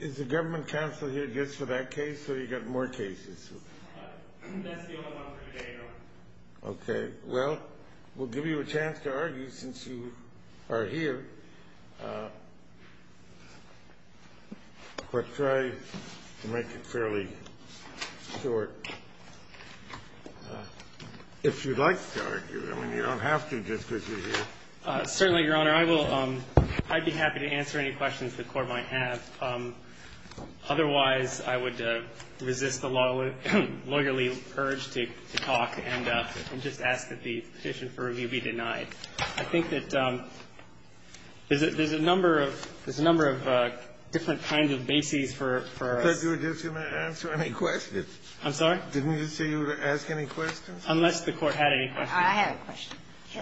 is the government counsel here just for that case so you got more cases okay well we'll give you a chance to argue since you are here but try to make it fairly short if you'd like to argue I mean you don't have to just because you're here certainly your honor I will um I'd be happy to answer any questions the court might have otherwise I would resist the law lawyerly urge to talk and just ask that the petition for review be denied I think that there's a number of there's a number of different kinds of bases for I'm sorry didn't you say you would ask any questions unless the court had any questions I had a question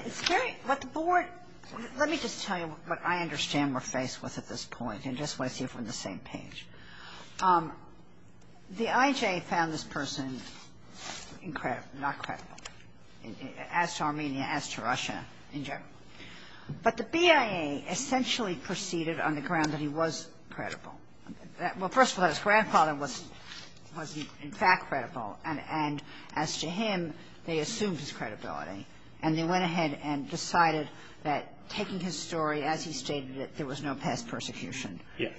it's very what the board let me just tell you what I understand we're faced with at this point and just let's see if we're on the same page the IJ found this person incredible not credible as to Armenia as to Russia in general but the BIA essentially proceeded on the ground that he was credible well first of all his grandfather was was in fact credible and and as to him they assumed his that taking his story as he stated that there was no past persecution yes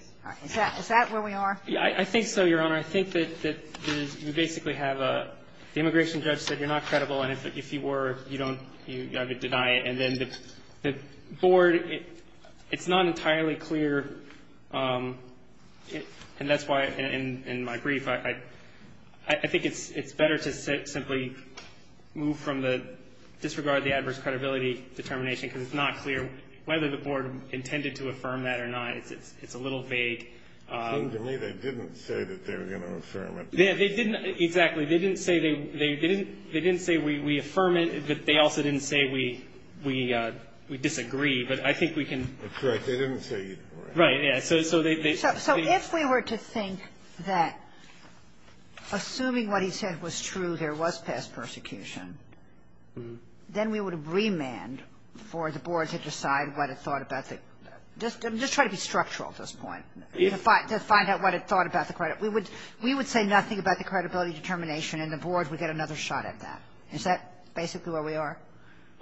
is that where we are yeah I think so your honor I think that you basically have a immigration judge said you're not credible and if you were you don't you gotta deny it and then the board it's not entirely clear and that's why in my brief I I think it's it's better to simply move from the disregard the determination is not clear whether the board intended to affirm that or not it's it's it's a little vague they didn't exactly they didn't say they didn't they didn't say we affirm it but they also didn't say we we we disagree but I think we can correct they didn't say right yeah so so they said so if we were to think that assuming what he said was true there was past persecution then we would have remand for the board to decide what it thought about that just just try to be structural at this point if I just find out what it thought about the credit we would we would say nothing about the credibility determination and the board would get another shot at that is that basically where we are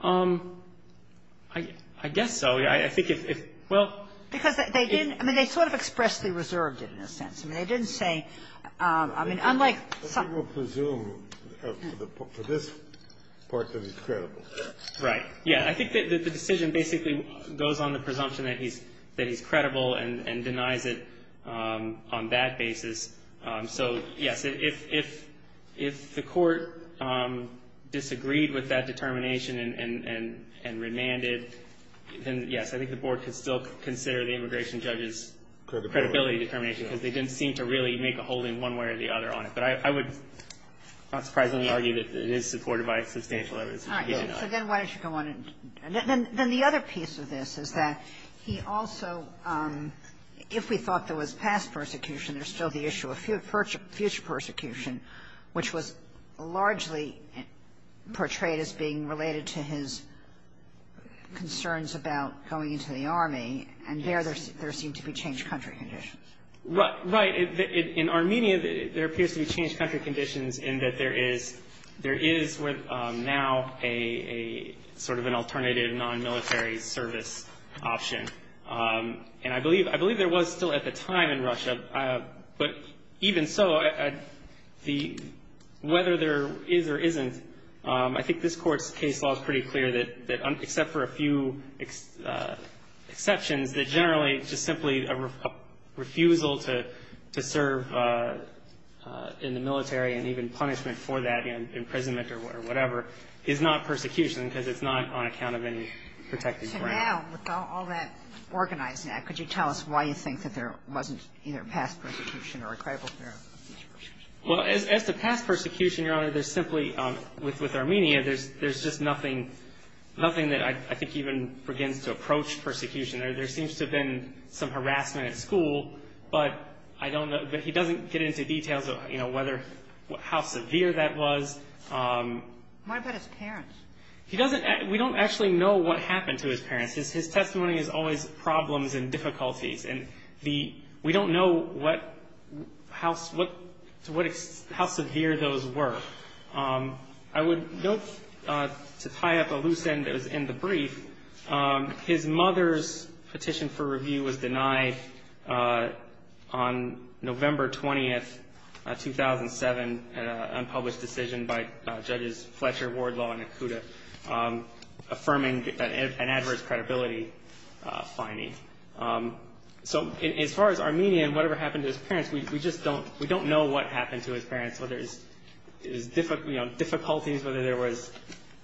um I guess so I think if well because they didn't I mean they sort of expressly reserved it in a I think that the decision basically goes on the presumption that he's that he's credible and and denies it on that basis so yes if if if the court disagreed with that determination and and and remanded then yes I think the board could still consider the immigration judges credibility determination because they didn't seem to really make a holding one way or the other on it but I would not surprisingly argue that it is supported by substantial evidence so then why don't you go on and then the other piece of this is that he also if we thought there was past persecution there's still the issue of future persecution which was largely portrayed as being related to his concerns about going into the army and there there seemed to be changed country conditions right right in Armenia there appears to be changed country conditions in that there is there is with now a sort of an alternative non-military service option and I believe I believe there was still at the time in Russia but even so at the whether there is or isn't I think this court's case law is pretty clear that that except for a few exceptions that generally just simply a refusal to to serve in the military and even punishment for that in imprisonment or whatever is not persecution because it's not on account of any protected ground. So now with all that organized now could you tell us why you think that there wasn't either past persecution or a credible future persecution? Well as to past persecution your honor there's simply with with Armenia there's there's just nothing nothing that I think even begins to approach persecution there there seems to have been some harassment at school but I don't know but he doesn't get into details of you know whether how severe that was. Why about his parents? He doesn't we don't actually know what happened to his parents his testimony is always problems and difficulties and the we don't know what how what to what it's how severe those were. I would note to tie up a loose end that was in the brief his mother's petition for review was denied on November 20th 2007 an unpublished decision by judges Fletcher, Wardlaw, and Akuta affirming an adverse credibility finding. So as far as Armenia and whatever happened to his parents we just don't we don't know what happened to his parents whether it was difficulties whether there was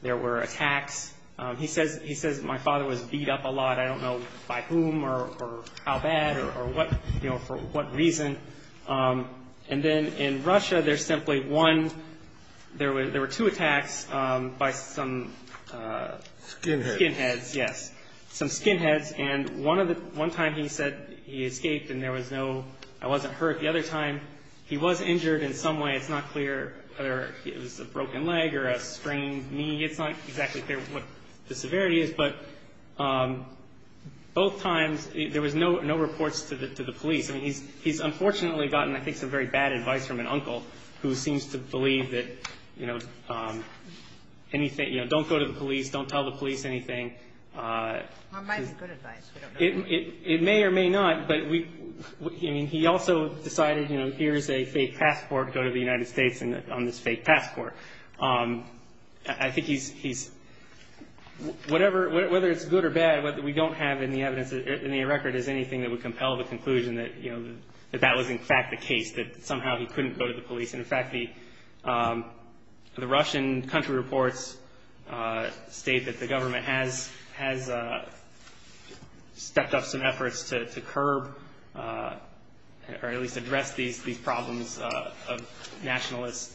there were attacks. He says he says my father was beat up a lot I don't know by whom or how bad or what you know for what reason and then in Russia there's simply one there were there were two attacks by some skinheads yes some skinheads and one of the one time he said he escaped and there was no I wasn't hurt the other time he was injured in some way it's not clear whether it was a broken leg or a sprained knee it's not exactly clear what the severity is but both times there was no no reports to the police and he's he's unfortunately gotten I think some very bad advice from an uncle who seems to believe that you know anything you know don't go to the police don't tell the police anything it may or may not but we mean he also decided you know here's a fake passport go to the United States and on this fake passport I think he's he's whatever whether it's good or bad whether we don't have any evidence in the record is anything that would compel the conclusion that you know that that was in fact the case that somehow he couldn't go to the police and in fact the the Russian country reports state that the government has has stepped up some efforts to curb or at least address these problems of nationalist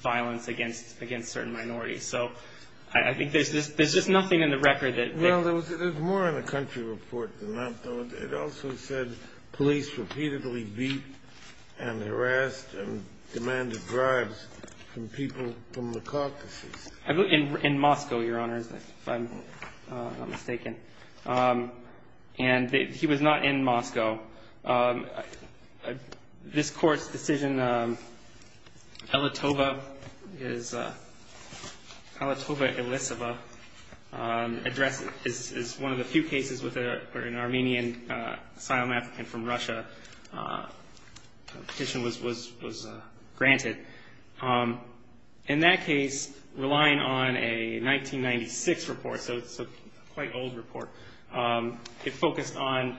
violence against against certain minorities so I think there's this there's just nothing in the record that you know there was more in the country report than that though it also said police repeatedly beat and harassed and demanded drives from people from the caucuses in in Moscow your honors if I'm not mistaken and he was not in Moscow this court's decision Elitoba is Elitoba Elisava address is one of the few cases with an Armenian asylum applicant from Russia petition was was was granted in that case relying on a 1996 report so it's a quite old report it focused on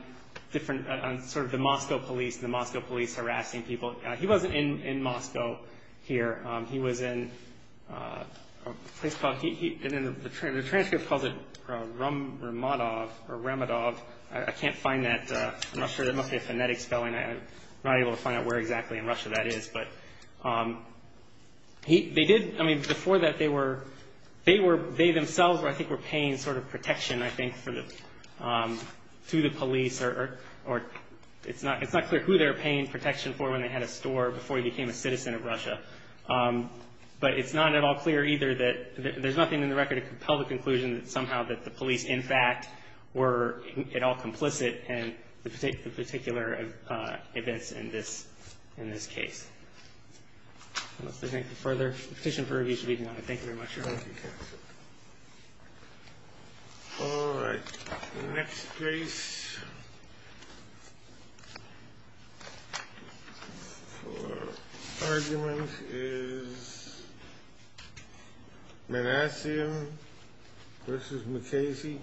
different sort of the Moscow police the Moscow police harassing people he wasn't in in Moscow here he was in a place called he didn't return the transcript of it from Ramadov Ramadov I can't find that I'm not sure that must be a phonetic spelling I'm not able to find out where exactly in Russia that is but he they did I mean before that they were they it's not clear who they're paying protection for when they had a store before he became a citizen of Russia but it's not at all clear either that there's nothing in the record to compel the conclusion that somehow that the police in fact were at all complicit in the particular events in this in this case. Thank you for their petition for review speaking on it. Thank you very much. All right. Next case. Argument is Manassian versus McKinsey.